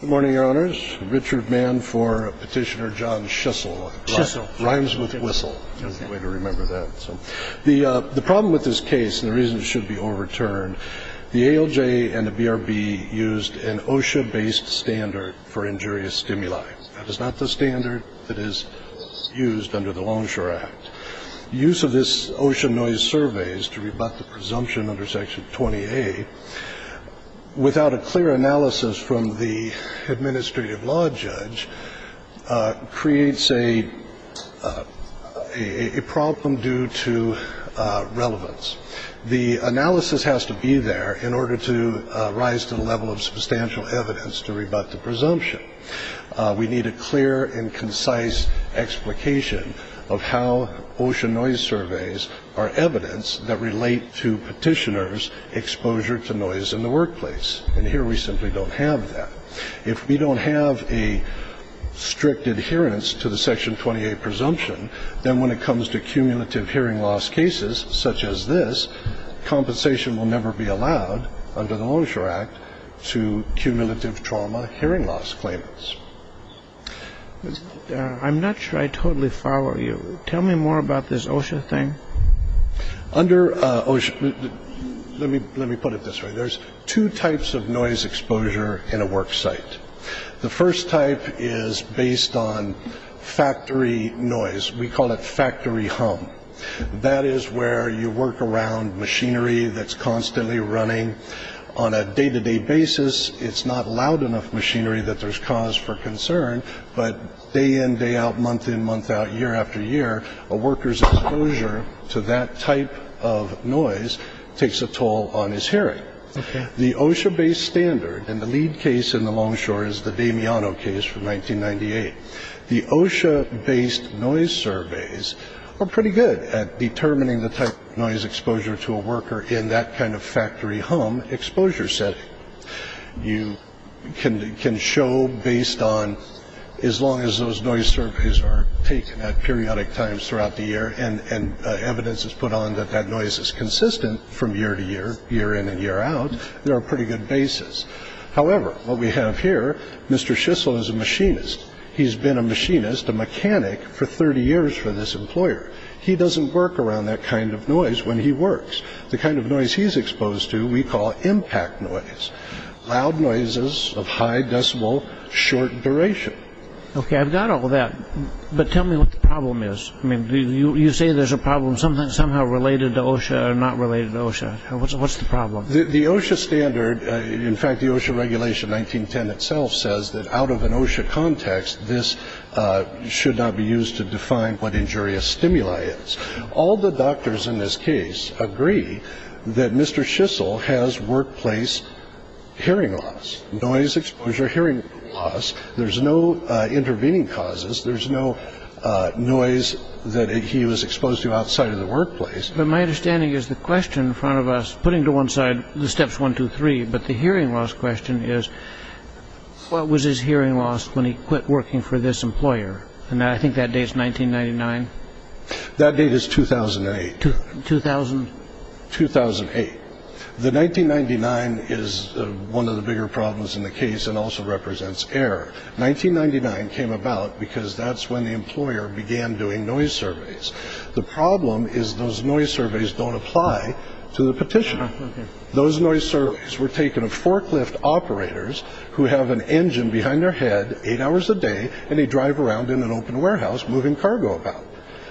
Good morning, your honors. Richard Mann for petitioner John Schiessl. Schiessl. Rhymes with whistle. Way to remember that. The problem with this case, and the reason it should be overturned, the ALJ and the BRB used an OSHA-based standard for injurious stimuli. That is not the standard that is used under the Longshore Act. Use of this OSHA noise survey is to rebut the presumption under Section 20A without a clear analysis from the administrative law judge creates a problem due to relevance. The analysis has to be there in order to rise to the level of substantial evidence to rebut the presumption. We need a clear and concise explication of how OSHA noise surveys are evidence that relate to petitioners' exposure to noise in the workplace. And here we simply don't have that. If we don't have a strict adherence to the Section 20A presumption, then when it comes to cumulative hearing loss cases such as this, compensation will never be allowed under the Longshore Act to cumulative trauma hearing loss claimants. I'm not sure I totally follow you. Tell me more about this OSHA thing. Let me put it this way. There's two types of noise exposure in a work site. The first type is based on factory noise. We call it factory hum. That is where you work around machinery that's constantly running. On a day-to-day basis, it's not loud enough machinery that there's cause for concern, but day in, day out, month in, month out, year after year, a worker's exposure to that type of noise takes a toll on his hearing. The OSHA-based standard, and the lead case in the Longshore is the Damiano case from 1998. The OSHA-based noise surveys are pretty good at determining the type of noise exposure to a worker in that kind of factory hum exposure setting. You can show based on as long as those noise surveys are taken at periodic times throughout the year and evidence is put on that that noise is consistent from year to year, year in and year out, they're a pretty good basis. However, what we have here, Mr. Schissel is a machinist. He's been a machinist, a mechanic, for 30 years for this employer. He doesn't work around that kind of noise when he works. The kind of noise he's exposed to we call impact noise, loud noises of high decibel, short duration. Okay, I've got all that, but tell me what the problem is. You say there's a problem somehow related to OSHA or not related to OSHA. What's the problem? The OSHA standard, in fact the OSHA regulation 1910 itself, says that out of an OSHA context this should not be used to define what injurious stimuli is. All the doctors in this case agree that Mr. Schissel has workplace hearing loss, noise exposure, hearing loss. There's no intervening causes. There's no noise that he was exposed to outside of the workplace. But my understanding is the question in front of us, putting to one side the steps one, two, three, but the hearing loss question is what was his hearing loss when he quit working for this employer? And I think that date is 1999. That date is 2008. 2008. The 1999 is one of the bigger problems in the case and also represents error. 1999 came about because that's when the employer began doing noise surveys. The problem is those noise surveys don't apply to the petitioner. Those noise surveys were taken of forklift operators who have an engine behind their head eight hours a day and they drive around in an open warehouse moving cargo about.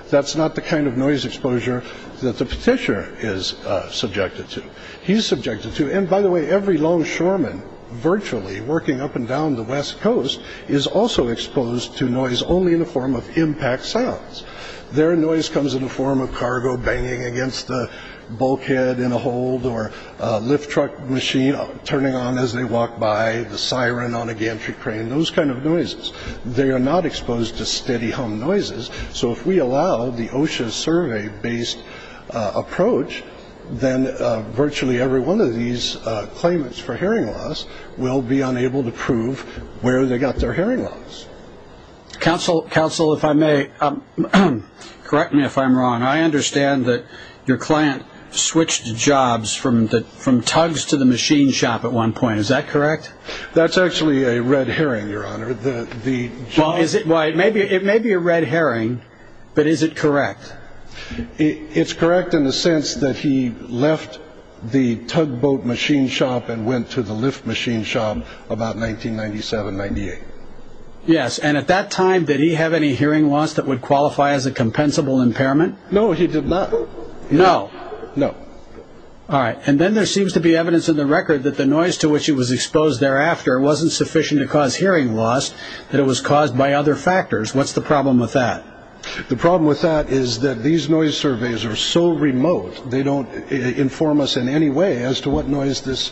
That's not the kind of noise exposure that the petitioner is subjected to. He's subjected to, and by the way, every longshoreman virtually working up and down the West Coast is also exposed to noise only in the form of impact sounds. Their noise comes in the form of cargo banging against the bulkhead in a hold or a lift truck machine turning on as they walk by, the siren on a gantry crane, those kind of noises. They are not exposed to steady hum noises. So if we allow the OSHA survey-based approach, then virtually every one of these claimants for hearing loss will be unable to prove where they got their hearing loss. Counsel, if I may, correct me if I'm wrong. I understand that your client switched jobs from tugs to the machine shop at one point. Is that correct? That's actually a red herring, Your Honor. It may be a red herring, but is it correct? It's correct in the sense that he left the tugboat machine shop and went to the lift machine shop about 1997, 1998. Yes, and at that time, did he have any hearing loss that would qualify as a compensable impairment? No, he did not. No. No. All right, and then there seems to be evidence in the record that the noise to which he was exposed thereafter wasn't sufficient to cause hearing loss, that it was caused by other factors. What's the problem with that? The problem with that is that these noise surveys are so remote, they don't inform us in any way as to what noise this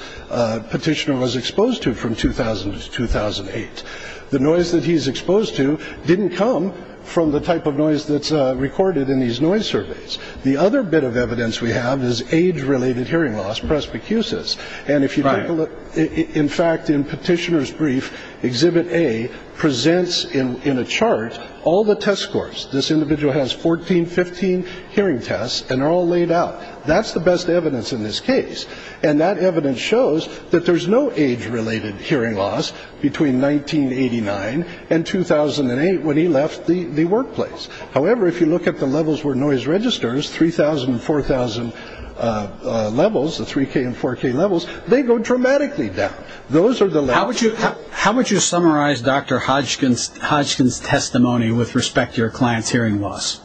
petitioner was exposed to from 2000 to 2008. The noise that he's exposed to didn't come from the type of noise that's recorded in these noise surveys. The other bit of evidence we have is age-related hearing loss, presbycusis. And if you take a look, in fact, in Petitioner's Brief, Exhibit A presents in a chart all the test scores. This individual has 14, 15 hearing tests, and they're all laid out. That's the best evidence in this case, and that evidence shows that there's no age-related hearing loss between 1989 and 2008 when he left the workplace. However, if you look at the levels where noise registers, 3,000 and 4,000 levels, the 3K and 4K levels, they go dramatically down. Those are the levels. How would you summarize Dr. Hodgkin's testimony with respect to your client's hearing loss?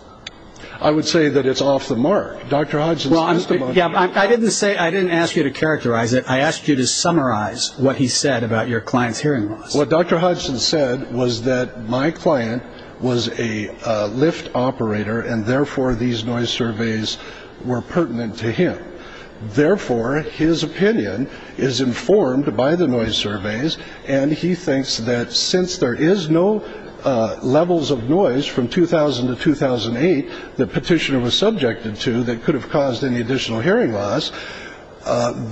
I would say that it's off the mark, Dr. Hodgkin's testimony. I didn't ask you to characterize it. I asked you to summarize what he said about your client's hearing loss. What Dr. Hodgkin said was that my client was a lift operator, and therefore these noise surveys were pertinent to him. Therefore, his opinion is informed by the noise surveys, and he thinks that since there is no levels of noise from 2000 to 2008 that Petitioner was subjected to that could have caused any additional hearing loss,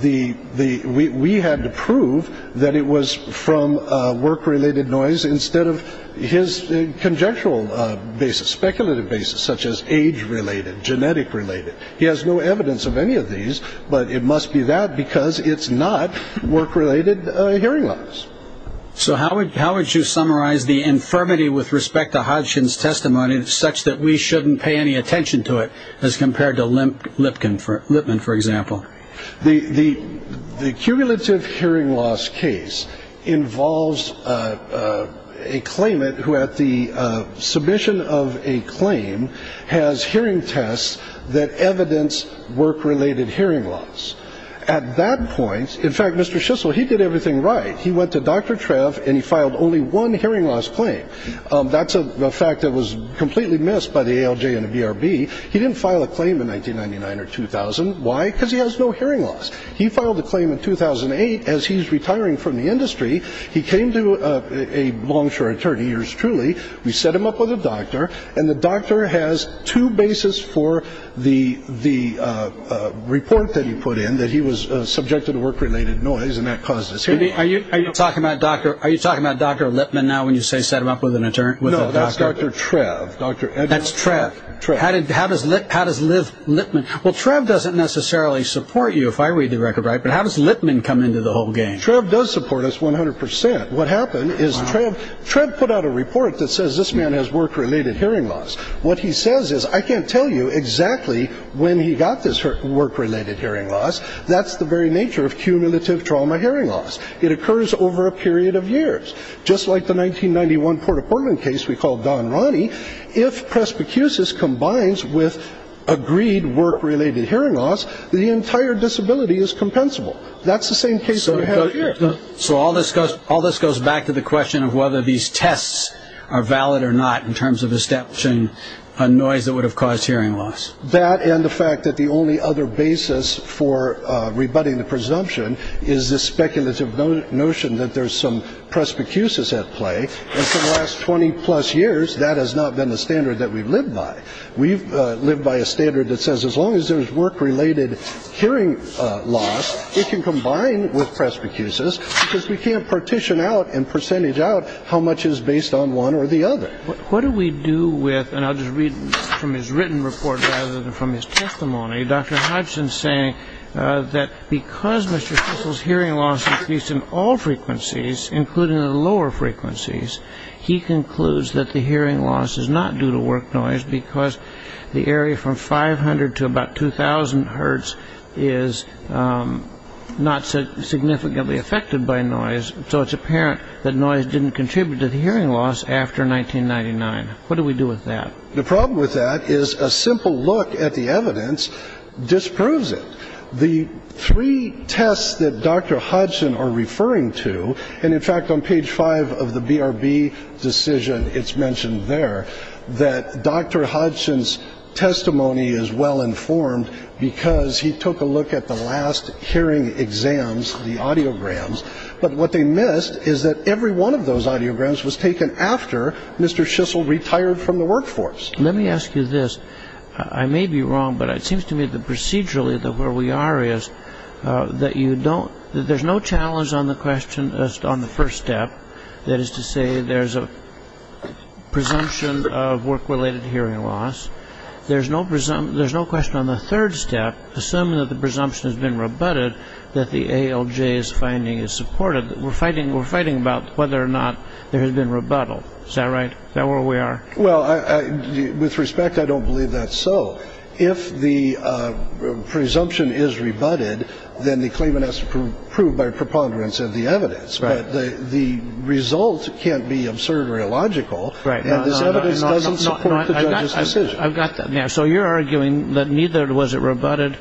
we had to prove that it was from work-related noise instead of his conjectural basis, speculative basis, such as age-related, genetic-related. He has no evidence of any of these, but it must be that because it's not work-related hearing loss. So how would you summarize the infirmity with respect to Hodgkin's testimony such that we shouldn't pay any attention to it as compared to Lipman, for example? The cumulative hearing loss case involves a claimant who, at the submission of a claim, has hearing tests that evidence work-related hearing loss. At that point, in fact, Mr. Schissel, he did everything right. He went to Dr. Trev, and he filed only one hearing loss claim. That's a fact that was completely missed by the ALJ and the BRB. He didn't file a claim in 1999 or 2000. Why? Because he has no hearing loss. He filed a claim in 2008 as he's retiring from the industry. He came to a long, short 30 years, truly. We set him up with a doctor, and the doctor has two bases for the report that he put in that he was subjected to work-related noise, and that caused his hearing loss. Are you talking about Dr. Lipman now when you say set him up with a doctor? No, that's Dr. Trev. That's Trev. How does Lipman? Well, Trev doesn't necessarily support you if I read the record right, but how does Lipman come into the whole game? Trev does support us 100%. What happened is Trev put out a report that says this man has work-related hearing loss. What he says is I can't tell you exactly when he got this work-related hearing loss. That's the very nature of cumulative trauma hearing loss. It occurs over a period of years. Just like the 1991 Port of Portland case we called Don Ronnie, if presbycusis combines with agreed work-related hearing loss, the entire disability is compensable. That's the same case we have here. So all this goes back to the question of whether these tests are valid or not in terms of establishing a noise that would have caused hearing loss. That and the fact that the only other basis for rebutting the presumption is the speculative notion that there's some presbycusis at play, and for the last 20-plus years, that has not been the standard that we've lived by. We've lived by a standard that says as long as there's work-related hearing loss, it can combine with presbycusis because we can't partition out and percentage out how much is based on one or the other. What do we do with, and I'll just read from his written report rather than from his testimony, Dr. Hodgson saying that because Mr. Fissel's hearing loss increased in all frequencies, including the lower frequencies, he concludes that the hearing loss is not due to work noise because the area from 500 to about 2,000 hertz is not significantly affected by noise. So it's apparent that noise didn't contribute to the hearing loss after 1999. What do we do with that? The problem with that is a simple look at the evidence disproves it. The three tests that Dr. Hodgson are referring to, and in fact, on page 5 of the BRB decision, it's mentioned there, that Dr. Hodgson's testimony is well-informed because he took a look at the last hearing exams, the audiograms, but what they missed is that every one of those audiograms was taken after Mr. Fissel retired from the workforce. Let me ask you this. I may be wrong, but it seems to me that procedurally where we are is that you don't, that there's no challenge on the question on the first step, that is to say there's a presumption of work-related hearing loss. There's no question on the third step, assuming that the presumption has been rebutted, that the ALJ's finding is supported. We're fighting about whether or not there has been rebuttal. Is that right? Is that where we are? Well, with respect, I don't believe that's so. If the presumption is rebutted, then the claimant has to prove by preponderance of the evidence, but the result can't be absurd or illogical, and this evidence doesn't support the judge's decision. I've got that now. So you're arguing that neither was it rebutted,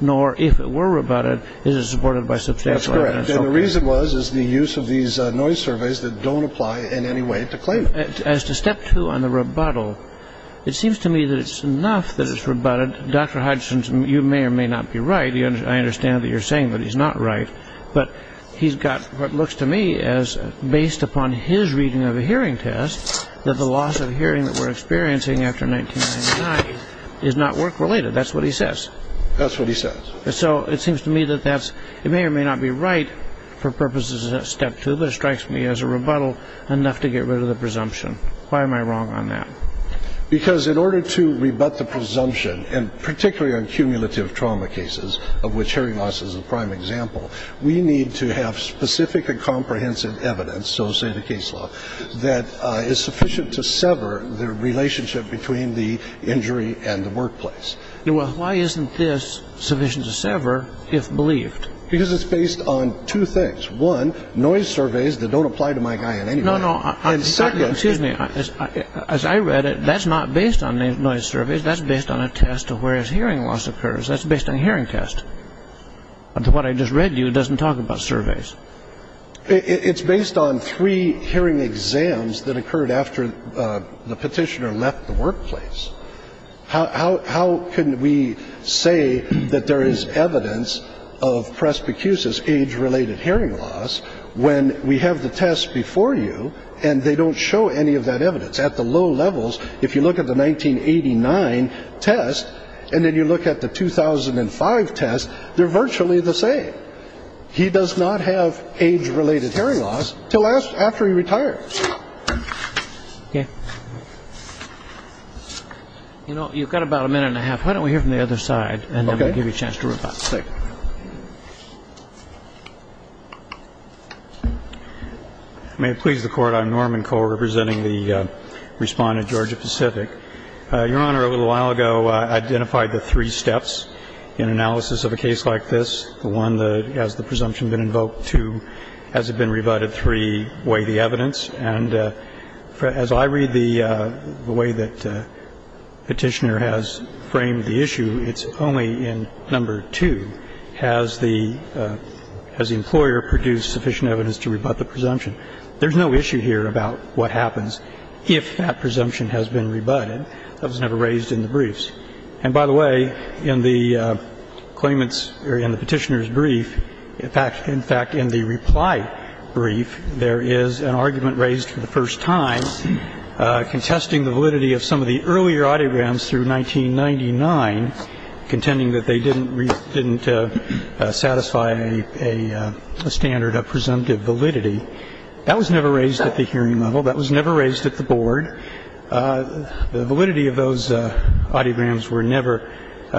nor if it were rebutted, is it supported by substantial evidence. That's correct, and the reason was is the use of these noise surveys that don't apply in any way to claimant. As to step two on the rebuttal, it seems to me that it's enough that it's rebutted. Dr. Hodgson, you may or may not be right. I understand that you're saying that he's not right, but he's got what looks to me as based upon his reading of a hearing test that the loss of hearing that we're experiencing after 1999 is not work-related. That's what he says. That's what he says. So it seems to me that it may or may not be right for purposes of that step two that strikes me as a rebuttal enough to get rid of the presumption. Why am I wrong on that? Because in order to rebut the presumption, and particularly on cumulative trauma cases, of which hearing loss is a prime example, we need to have specific and comprehensive evidence, so say the case law, that is sufficient to sever the relationship between the injury and the workplace. Why isn't this sufficient to sever if believed? Because it's based on two things. One, noise surveys that don't apply to my guy in any way. No, no. And second. Excuse me. As I read it, that's not based on noise surveys. That's based on a test of where his hearing loss occurs. That's based on a hearing test. But what I just read to you doesn't talk about surveys. It's based on three hearing exams that occurred after the petitioner left the workplace. How can we say that there is evidence of presbycusis, age-related hearing loss, when we have the test before you and they don't show any of that evidence? At the low levels, if you look at the 1989 test and then you look at the 2005 test, they're virtually the same. He does not have age-related hearing loss until after he retires. Okay. You know, you've got about a minute and a half. Why don't we hear from the other side and then we'll give you a chance to reply. Okay. Thank you. May it please the Court, I'm Norman Cole, representing the respondent, Georgia Pacific. Your Honor, a little while ago I identified the three steps in analysis of a case like this, the one that has the presumption been invoked, two, has it been rebutted, three, weigh the evidence. And as I read the way that Petitioner has framed the issue, it's only in number two, has the employer produced sufficient evidence to rebut the presumption. There's no issue here about what happens if that presumption has been rebutted. That was never raised in the briefs. And, by the way, in the Petitioner's brief, in fact, in the reply brief, there is an argument raised for the first time contesting the validity of some of the earlier audiograms through 1999, contending that they didn't satisfy a standard of presumptive validity. That was never raised at the hearing level. That was never raised at the Board. The validity of those audiograms were never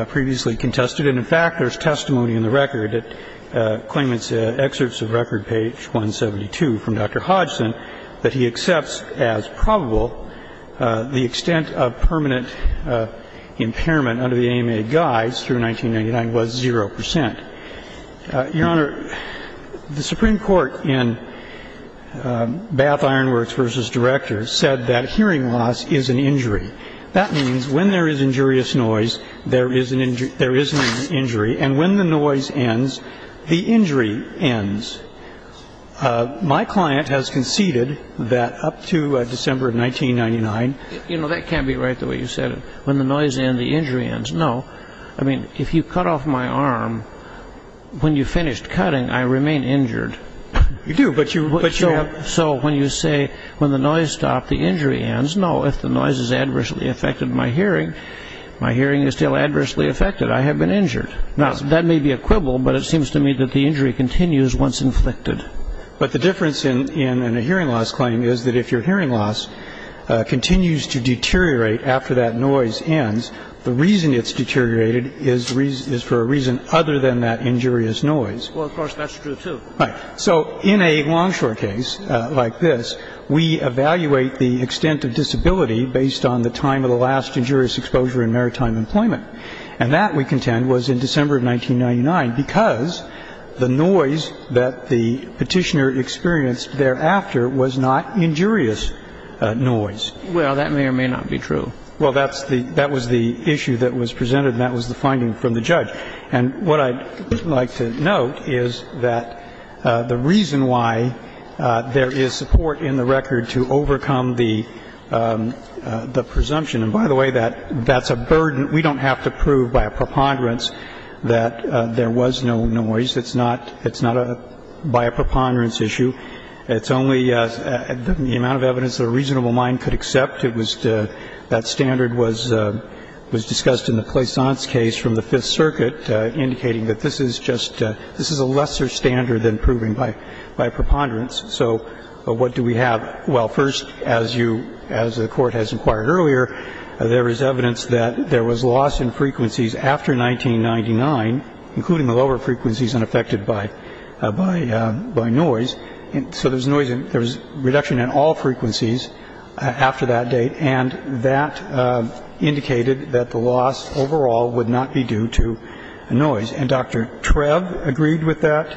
previously contested. And, in fact, there's testimony in the record that claimants' excerpts of record page 172 from Dr. Hodgson that he accepts as probable the extent of permanent impairment under the AMA guides through 1999 was 0 percent. Your Honor, the Supreme Court in Bath Iron Works v. Directors said that hearing loss is an injury. That means when there is injurious noise, there is an injury. And when the noise ends, the injury ends. My client has conceded that up to December of 1999. You know, that can't be right, the way you said it. When the noise ends, the injury ends. No. I mean, if you cut off my arm, when you finished cutting, I remain injured. You do, but you have. So when you say when the noise stopped, the injury ends. No, if the noise has adversely affected my hearing, my hearing is still adversely affected. I have been injured. Now, that may be a quibble, but it seems to me that the injury continues once inflicted. But the difference in a hearing loss claim is that if your hearing loss continues to deteriorate after that noise ends, the reason it's deteriorated is for a reason other than that injurious noise. Well, of course, that's true, too. Right. So in a Longshore case like this, we evaluate the extent of disability based on the time of the last injurious exposure in maritime employment. And that, we contend, was in December of 1999 because the noise that the Petitioner experienced thereafter was not injurious noise. Well, that may or may not be true. Well, that was the issue that was presented, and that was the finding from the judge. And what I'd like to note is that the reason why there is support in the record to overcome the presumption and, by the way, that's a burden we don't have to prove by a preponderance that there was no noise. It's not by a preponderance issue. It's only the amount of evidence that a reasonable mind could accept. That standard was discussed in the Plaisance case from the Fifth Circuit, indicating that this is a lesser standard than proving by a preponderance. So what do we have? Well, first, as the Court has inquired earlier, there is evidence that there was loss in frequencies after 1999, including the lower frequencies unaffected by noise. So there was noise and there was reduction in all frequencies after that date, and that indicated that the loss overall would not be due to noise. And Dr. Trev agreed with that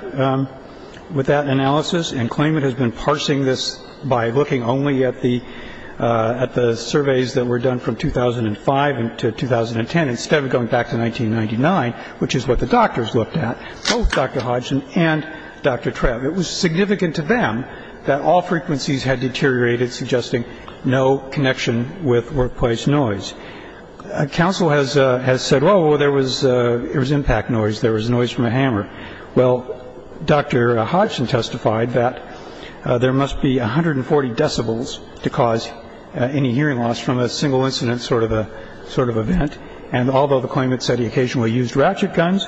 analysis and claimed it has been parsing this by looking only at the surveys that were done from 2005 to 2010 instead of going back to 1999, which is what the doctors looked at, both Dr. Hodgson and Dr. Trev. It was significant to them that all frequencies had deteriorated, suggesting no connection with workplace noise. Counsel has said, well, there was impact noise, there was noise from a hammer. Well, Dr. Hodgson testified that there must be 140 decibels to cause any hearing loss from a single incident sort of event. And although the claimant said he occasionally used ratchet guns,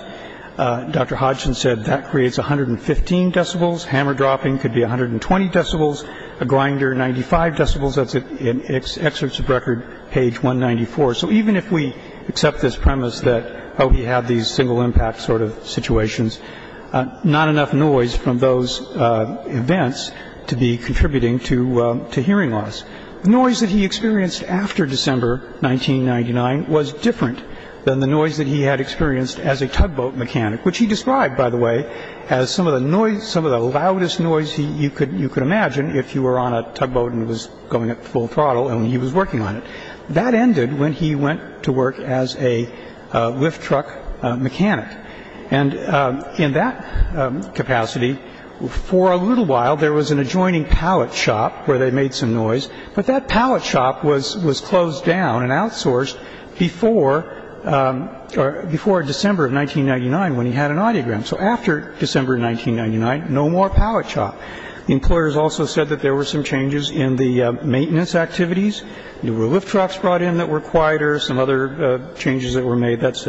Dr. Hodgson said that creates 115 decibels. Hammer dropping could be 120 decibels. A grinder, 95 decibels. That's in Excerpts of Record, page 194. So even if we accept this premise that, oh, he had these single impact sort of situations, not enough noise from those events to be contributing to hearing loss. The noise that he experienced after December 1999 was different than the noise that he had experienced as a tugboat mechanic, which he described, by the way, as some of the loudest noise you could imagine if you were on a tugboat and it was going at full throttle and he was working on it. That ended when he went to work as a lift truck mechanic. And in that capacity, for a little while, there was an adjoining pallet shop where they made some noise. But that pallet shop was closed down and outsourced before December of 1999 when he had an audiogram. So after December 1999, no more pallet shop. The employers also said that there were some changes in the maintenance activities. There were lift trucks brought in that were quieter, some other changes that were made. That's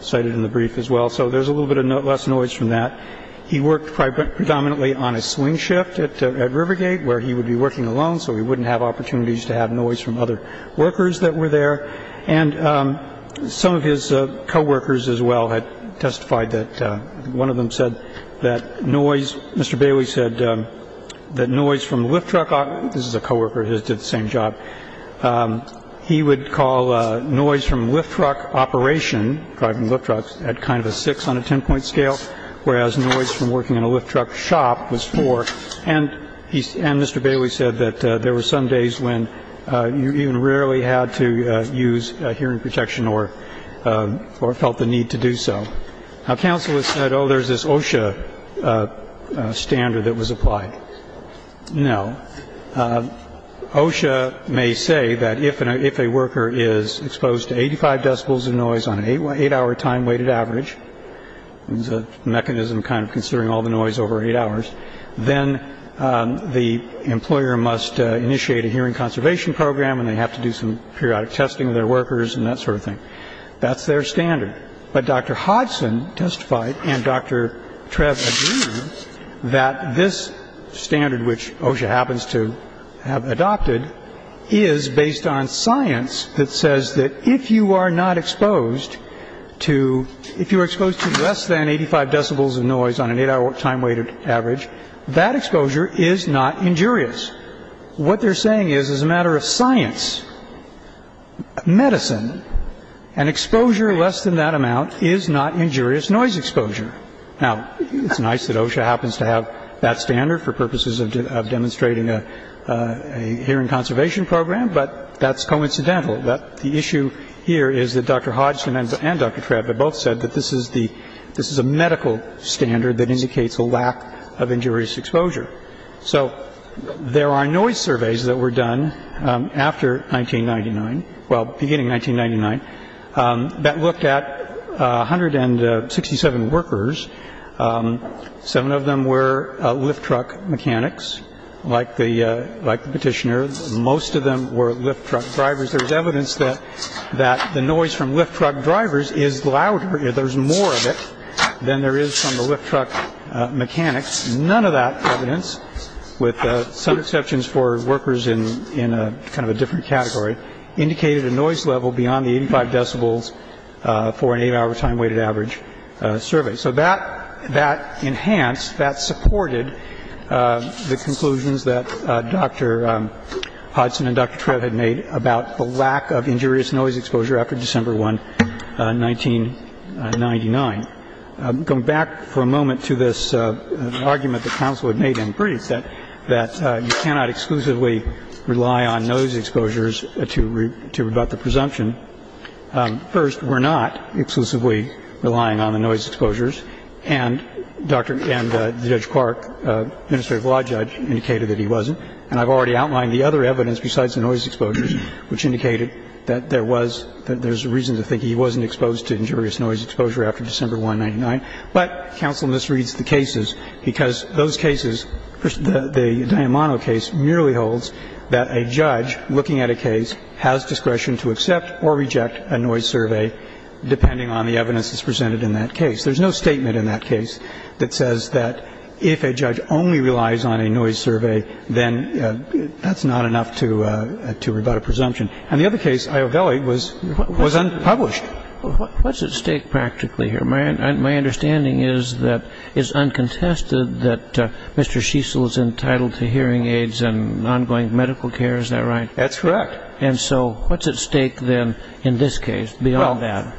cited in the brief as well. So there's a little bit less noise from that. He worked predominantly on a swing shift at Rivergate where he would be working alone so he wouldn't have opportunities to have noise from other workers that were there. And some of his co-workers as well had testified that one of them said that noise, Mr. Bailey said, that noise from lift truck, this is a co-worker of his, did the same job. He would call noise from lift truck operation, driving lift trucks, at kind of a six on a ten-point scale, whereas noise from working in a lift truck shop was four. And Mr. Bailey said that there were some days when you even rarely had to use hearing protection or felt the need to do so. Now, council has said, oh, there's this OSHA standard that was applied. No. OSHA may say that if a worker is exposed to 85 decibels of noise on an eight-hour time weighted average, it's a mechanism kind of considering all the noise over eight hours, then the employer must initiate a hearing conservation program and they have to do some periodic testing of their workers and that sort of thing. That's their standard. But Dr. Hodgson testified and Dr. Trev agreed that this standard, which OSHA happens to have adopted, is based on science that says that if you are not exposed to, if you are exposed to less than 85 decibels of noise on an eight-hour time weighted average, that exposure is not injurious. What they're saying is, as a matter of science, medicine, an exposure less than that amount is not injurious noise exposure. Now, it's nice that OSHA happens to have that standard for purposes of demonstrating a hearing conservation program, but that's coincidental. The issue here is that Dr. Hodgson and Dr. Trev have both said that this is the, this is a medical standard that indicates a lack of injurious exposure. So there are noise surveys that were done after 1999, well, beginning 1999, that looked at 167 workers. Seven of them were lift truck mechanics, like the petitioner. Most of them were lift truck drivers. There's evidence that the noise from lift truck drivers is louder. There's more of it than there is from the lift truck mechanics. None of that evidence, with some exceptions for workers in kind of a different category, indicated a noise level beyond the 85 decibels for an eight-hour time weighted average survey. So that enhanced, that supported the conclusions that Dr. Hodgson and Dr. Trev had made about the lack of injurious noise exposure after December 1, 1999. Going back for a moment to this argument that counsel had made in brief, that you cannot exclusively rely on noise exposures to rebut the presumption. First, we're not exclusively relying on the noise exposures. And Dr. — and Judge Clark, administrative law judge, indicated that he wasn't. And I've already outlined the other evidence besides the noise exposures, which indicated that there was, there's a reason to think he wasn't exposed to injurious noise exposure after December 1, 1999. But counsel misreads the cases because those cases, the Diamano case, merely holds that a judge looking at a case has discretion to accept or reject a noise survey, depending on the evidence that's presented in that case. There's no statement in that case that says that if a judge only relies on a noise survey, then that's not enough to rebut a presumption. And the other case, Iovelli, was unpublished. What's at stake practically here? My understanding is that it's uncontested that Mr. Shiesel is entitled to hearing aids and ongoing medical care. Is that right? That's correct. And so what's at stake then in this case beyond that? Well,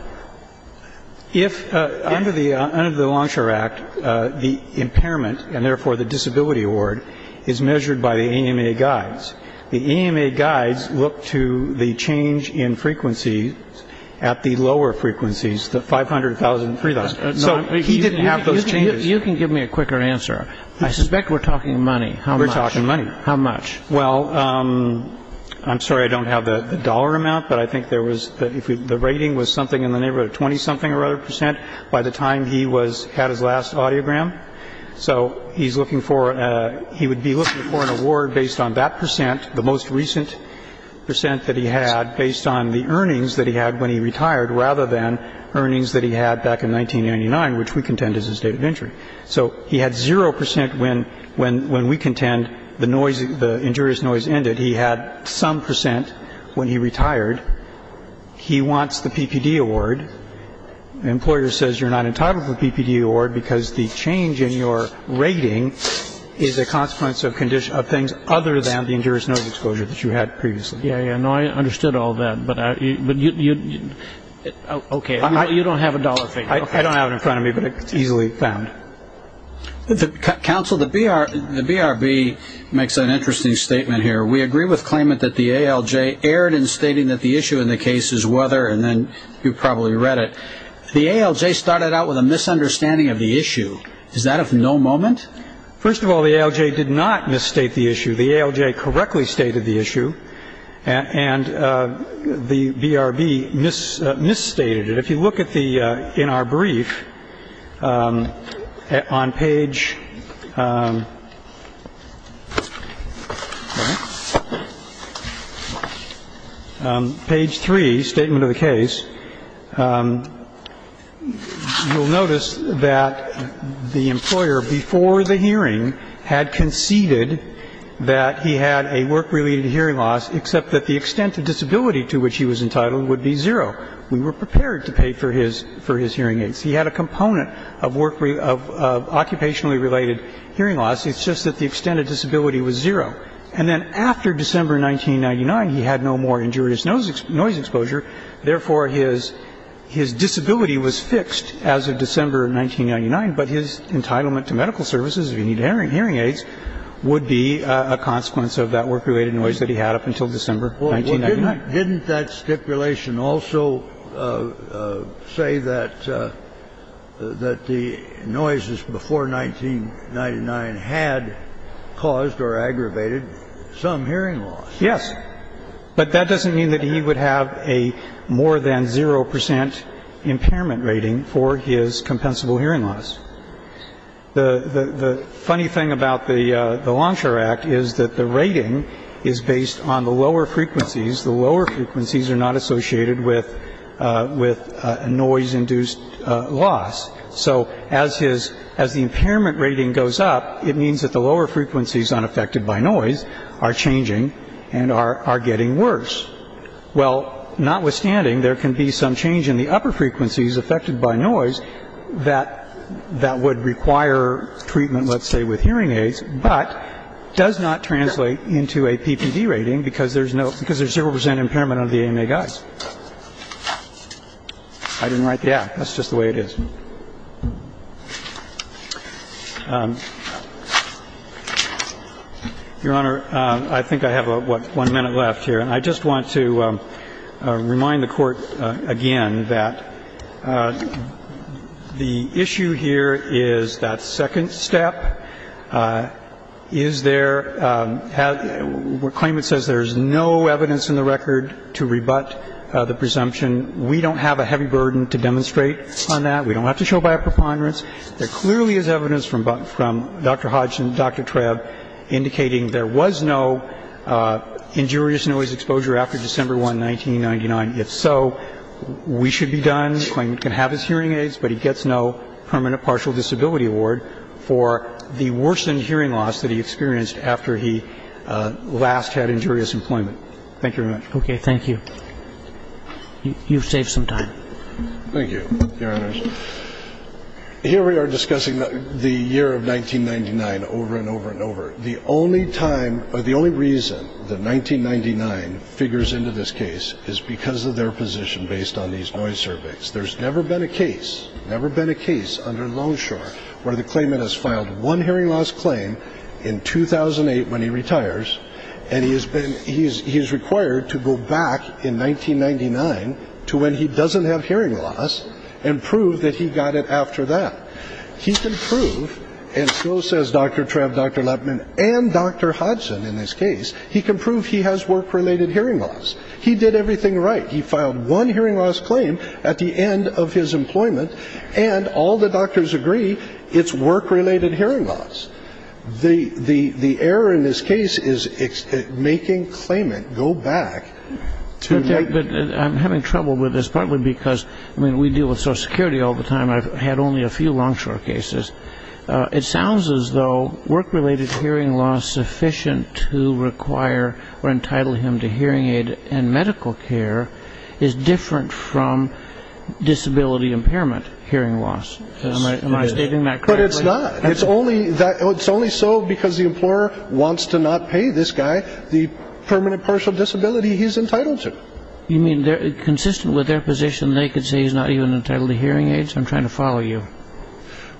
if under the Longshore Act, the impairment, and therefore the disability award, is measured by the EMA guides. The EMA guides look to the change in frequency at the lower frequencies, the 500,000, 3,000. So he didn't have those changes. You can give me a quicker answer. I suspect we're talking money. We're talking money. How much? Well, I'm sorry I don't have the dollar amount, but I think there was, the rating was something in the neighborhood of 20-something or other percent by the time he had his last audiogram. So he's looking for, he would be looking for an award based on that percent, the most recent percent that he had based on the earnings that he had when he retired rather than earnings that he had back in 1999, which we contend is his date of injury. So he had zero percent when we contend the noise, the injurious noise ended. He had some percent when he retired. He wants the PPD award. The employer says you're not entitled to the PPD award because the change in your rating is a consequence of things other than the injurious noise exposure that you had previously. Yeah, yeah, no, I understood all that, but you don't have a dollar figure. I don't have it in front of me, but it's easily found. Counsel, the BRB makes an interesting statement here. We agree with claimant that the ALJ erred in stating that the issue in the case is weather, and then you probably read it. The ALJ started out with a misunderstanding of the issue. Is that of no moment? First of all, the ALJ did not misstate the issue. The ALJ correctly stated the issue, and the BRB misstated it. But if you look at the, in our brief, on page three, statement of the case, you'll notice that the employer, before the hearing, had conceded that he had a work-related hearing loss, except that the extent of disability to which he was entitled would be zero. We were prepared to pay for his hearing aids. He had a component of occupationally related hearing loss. It's just that the extent of disability was zero. And then after December 1999, he had no more injurious noise exposure. Therefore, his disability was fixed as of December 1999, but his entitlement to medical services, if he needed hearing aids, would be a consequence of that work-related noise that he had up until December 1999. Didn't that stipulation also say that the noises before 1999 had caused or aggravated some hearing loss? Yes. But that doesn't mean that he would have a more than zero percent impairment rating for his compensable hearing loss. The funny thing about the Longshore Act is that the rating is based on the lower frequencies. The lower frequencies are not associated with a noise-induced loss. So as the impairment rating goes up, it means that the lower frequencies unaffected by noise are changing and are getting worse. Well, notwithstanding, there can be some change in the upper frequencies affected by noise that would require treatment, let's say, with hearing aids, but does not translate into a PPD rating because there's zero percent impairment under the AMA guides. I didn't write the Act. That's just the way it is. Your Honor, I think I have, what, one minute left here. And I just want to remind the Court again that the issue here is that second step. Is there, claimant says there's no evidence in the record to rebut the presumption. We don't have a heavy burden to demonstrate on that. We don't have to show by a preponderance. There clearly is evidence from Dr. Hodgson, Dr. Trebb, indicating there was no injurious noise exposure after December 1, 1999. If so, we should be done. The claimant can have his hearing aids, but he gets no permanent partial disability award for the worsened hearing loss that he experienced after he last had injurious employment. Thank you very much. Okay. Thank you. You've saved some time. Thank you, Your Honor. Here we are discussing the year of 1999 over and over and over. The only time or the only reason that 1999 figures into this case is because of their position based on these noise surveys. There's never been a case, never been a case under Longshore where the claimant has filed one hearing loss claim in 2008 when he retires, and he's required to go back in 1999 to when he doesn't have hearing loss and prove that he got it after that. He can prove, and so says Dr. Trebb, Dr. Lippman, and Dr. Hodgson in this case, he can prove he has work-related hearing loss. He did everything right. He filed one hearing loss claim at the end of his employment, and all the doctors agree it's work-related hearing loss. The error in this case is making claimant go back to make. But I'm having trouble with this, partly because, I mean, we deal with Social Security all the time. I've had only a few Longshore cases. It sounds as though work-related hearing loss sufficient to require or entitle him to hearing aid and medical care is different from disability impairment hearing loss. Am I stating that correctly? But it's not. It's only so because the employer wants to not pay this guy the permanent partial disability he's entitled to. You mean consistent with their position, they could say he's not even entitled to hearing aids? I'm trying to follow you.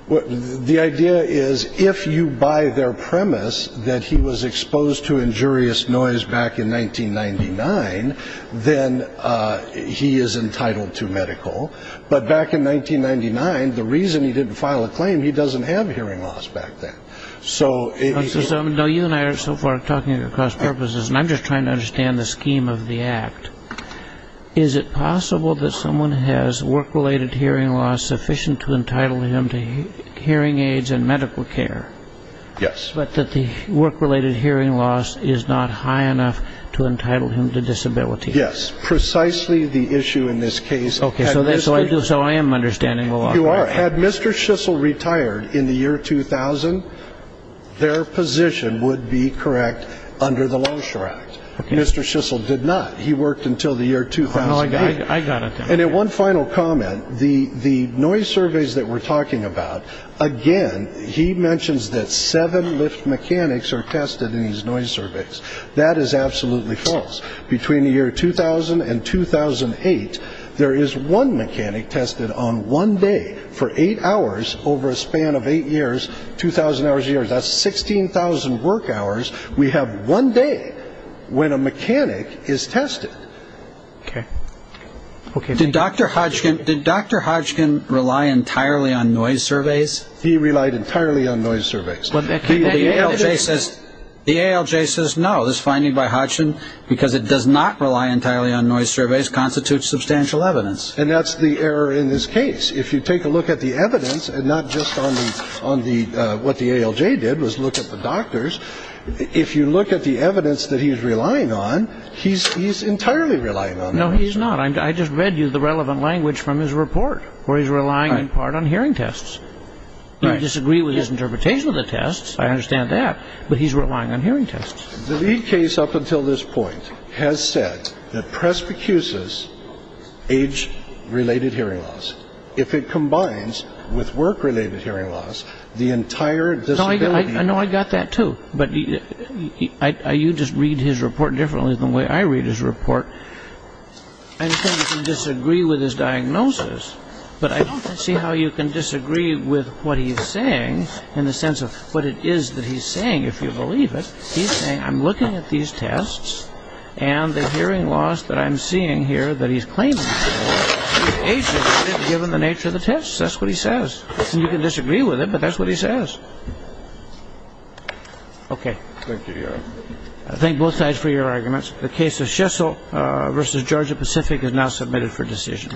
The idea is if you buy their premise that he was exposed to injurious noise back in 1999, then he is entitled to medical. But back in 1999, the reason he didn't file a claim, he doesn't have hearing loss back then. So you and I are so far talking across purposes, and I'm just trying to understand the scheme of the act. Is it possible that someone has work-related hearing loss sufficient to entitle him to hearing aids and medical care? Yes. But that the work-related hearing loss is not high enough to entitle him to disability? Yes, precisely the issue in this case. Okay. So I am understanding the law. You are. Had Mr. Schissel retired in the year 2000, their position would be correct under the Law Insurance Act. Mr. Schissel did not. He worked until the year 2008. I got it. And one final comment. The noise surveys that we're talking about, again, he mentions that seven lift mechanics are tested in these noise surveys. That is absolutely false. Between the year 2000 and 2008, there is one mechanic tested on one day for eight hours over a span of eight years, 2,000 hours a year. That's 16,000 work hours. We have one day when a mechanic is tested. Okay. Did Dr. Hodgkin rely entirely on noise surveys? He relied entirely on noise surveys. The ALJ says no. This finding by Hodgkin, because it does not rely entirely on noise surveys, constitutes substantial evidence. And that's the error in this case. If you take a look at the evidence, and not just on what the ALJ did was look at the doctors, if you look at the evidence that he's relying on, he's entirely relying on noise surveys. No, he's not. I just read you the relevant language from his report, where he's relying in part on hearing tests. You disagree with his interpretation of the tests. I understand that. But he's relying on hearing tests. The lead case up until this point has said that Presbycus's age-related hearing loss, if it combines with work-related hearing loss, the entire disability... I know I got that, too. But you just read his report differently than the way I read his report. I understand you can disagree with his diagnosis, but I don't see how you can disagree with what he's saying in the sense of what it is that he's saying, if you believe it. He's saying, I'm looking at these tests, and the hearing loss that I'm seeing here that he's claiming is age-related, given the nature of the tests. That's what he says. And you can disagree with it, but that's what he says. Okay. Thank you, Your Honor. I thank both sides for your arguments. The case of Schessel v. Georgia Pacific is now submitted for decision.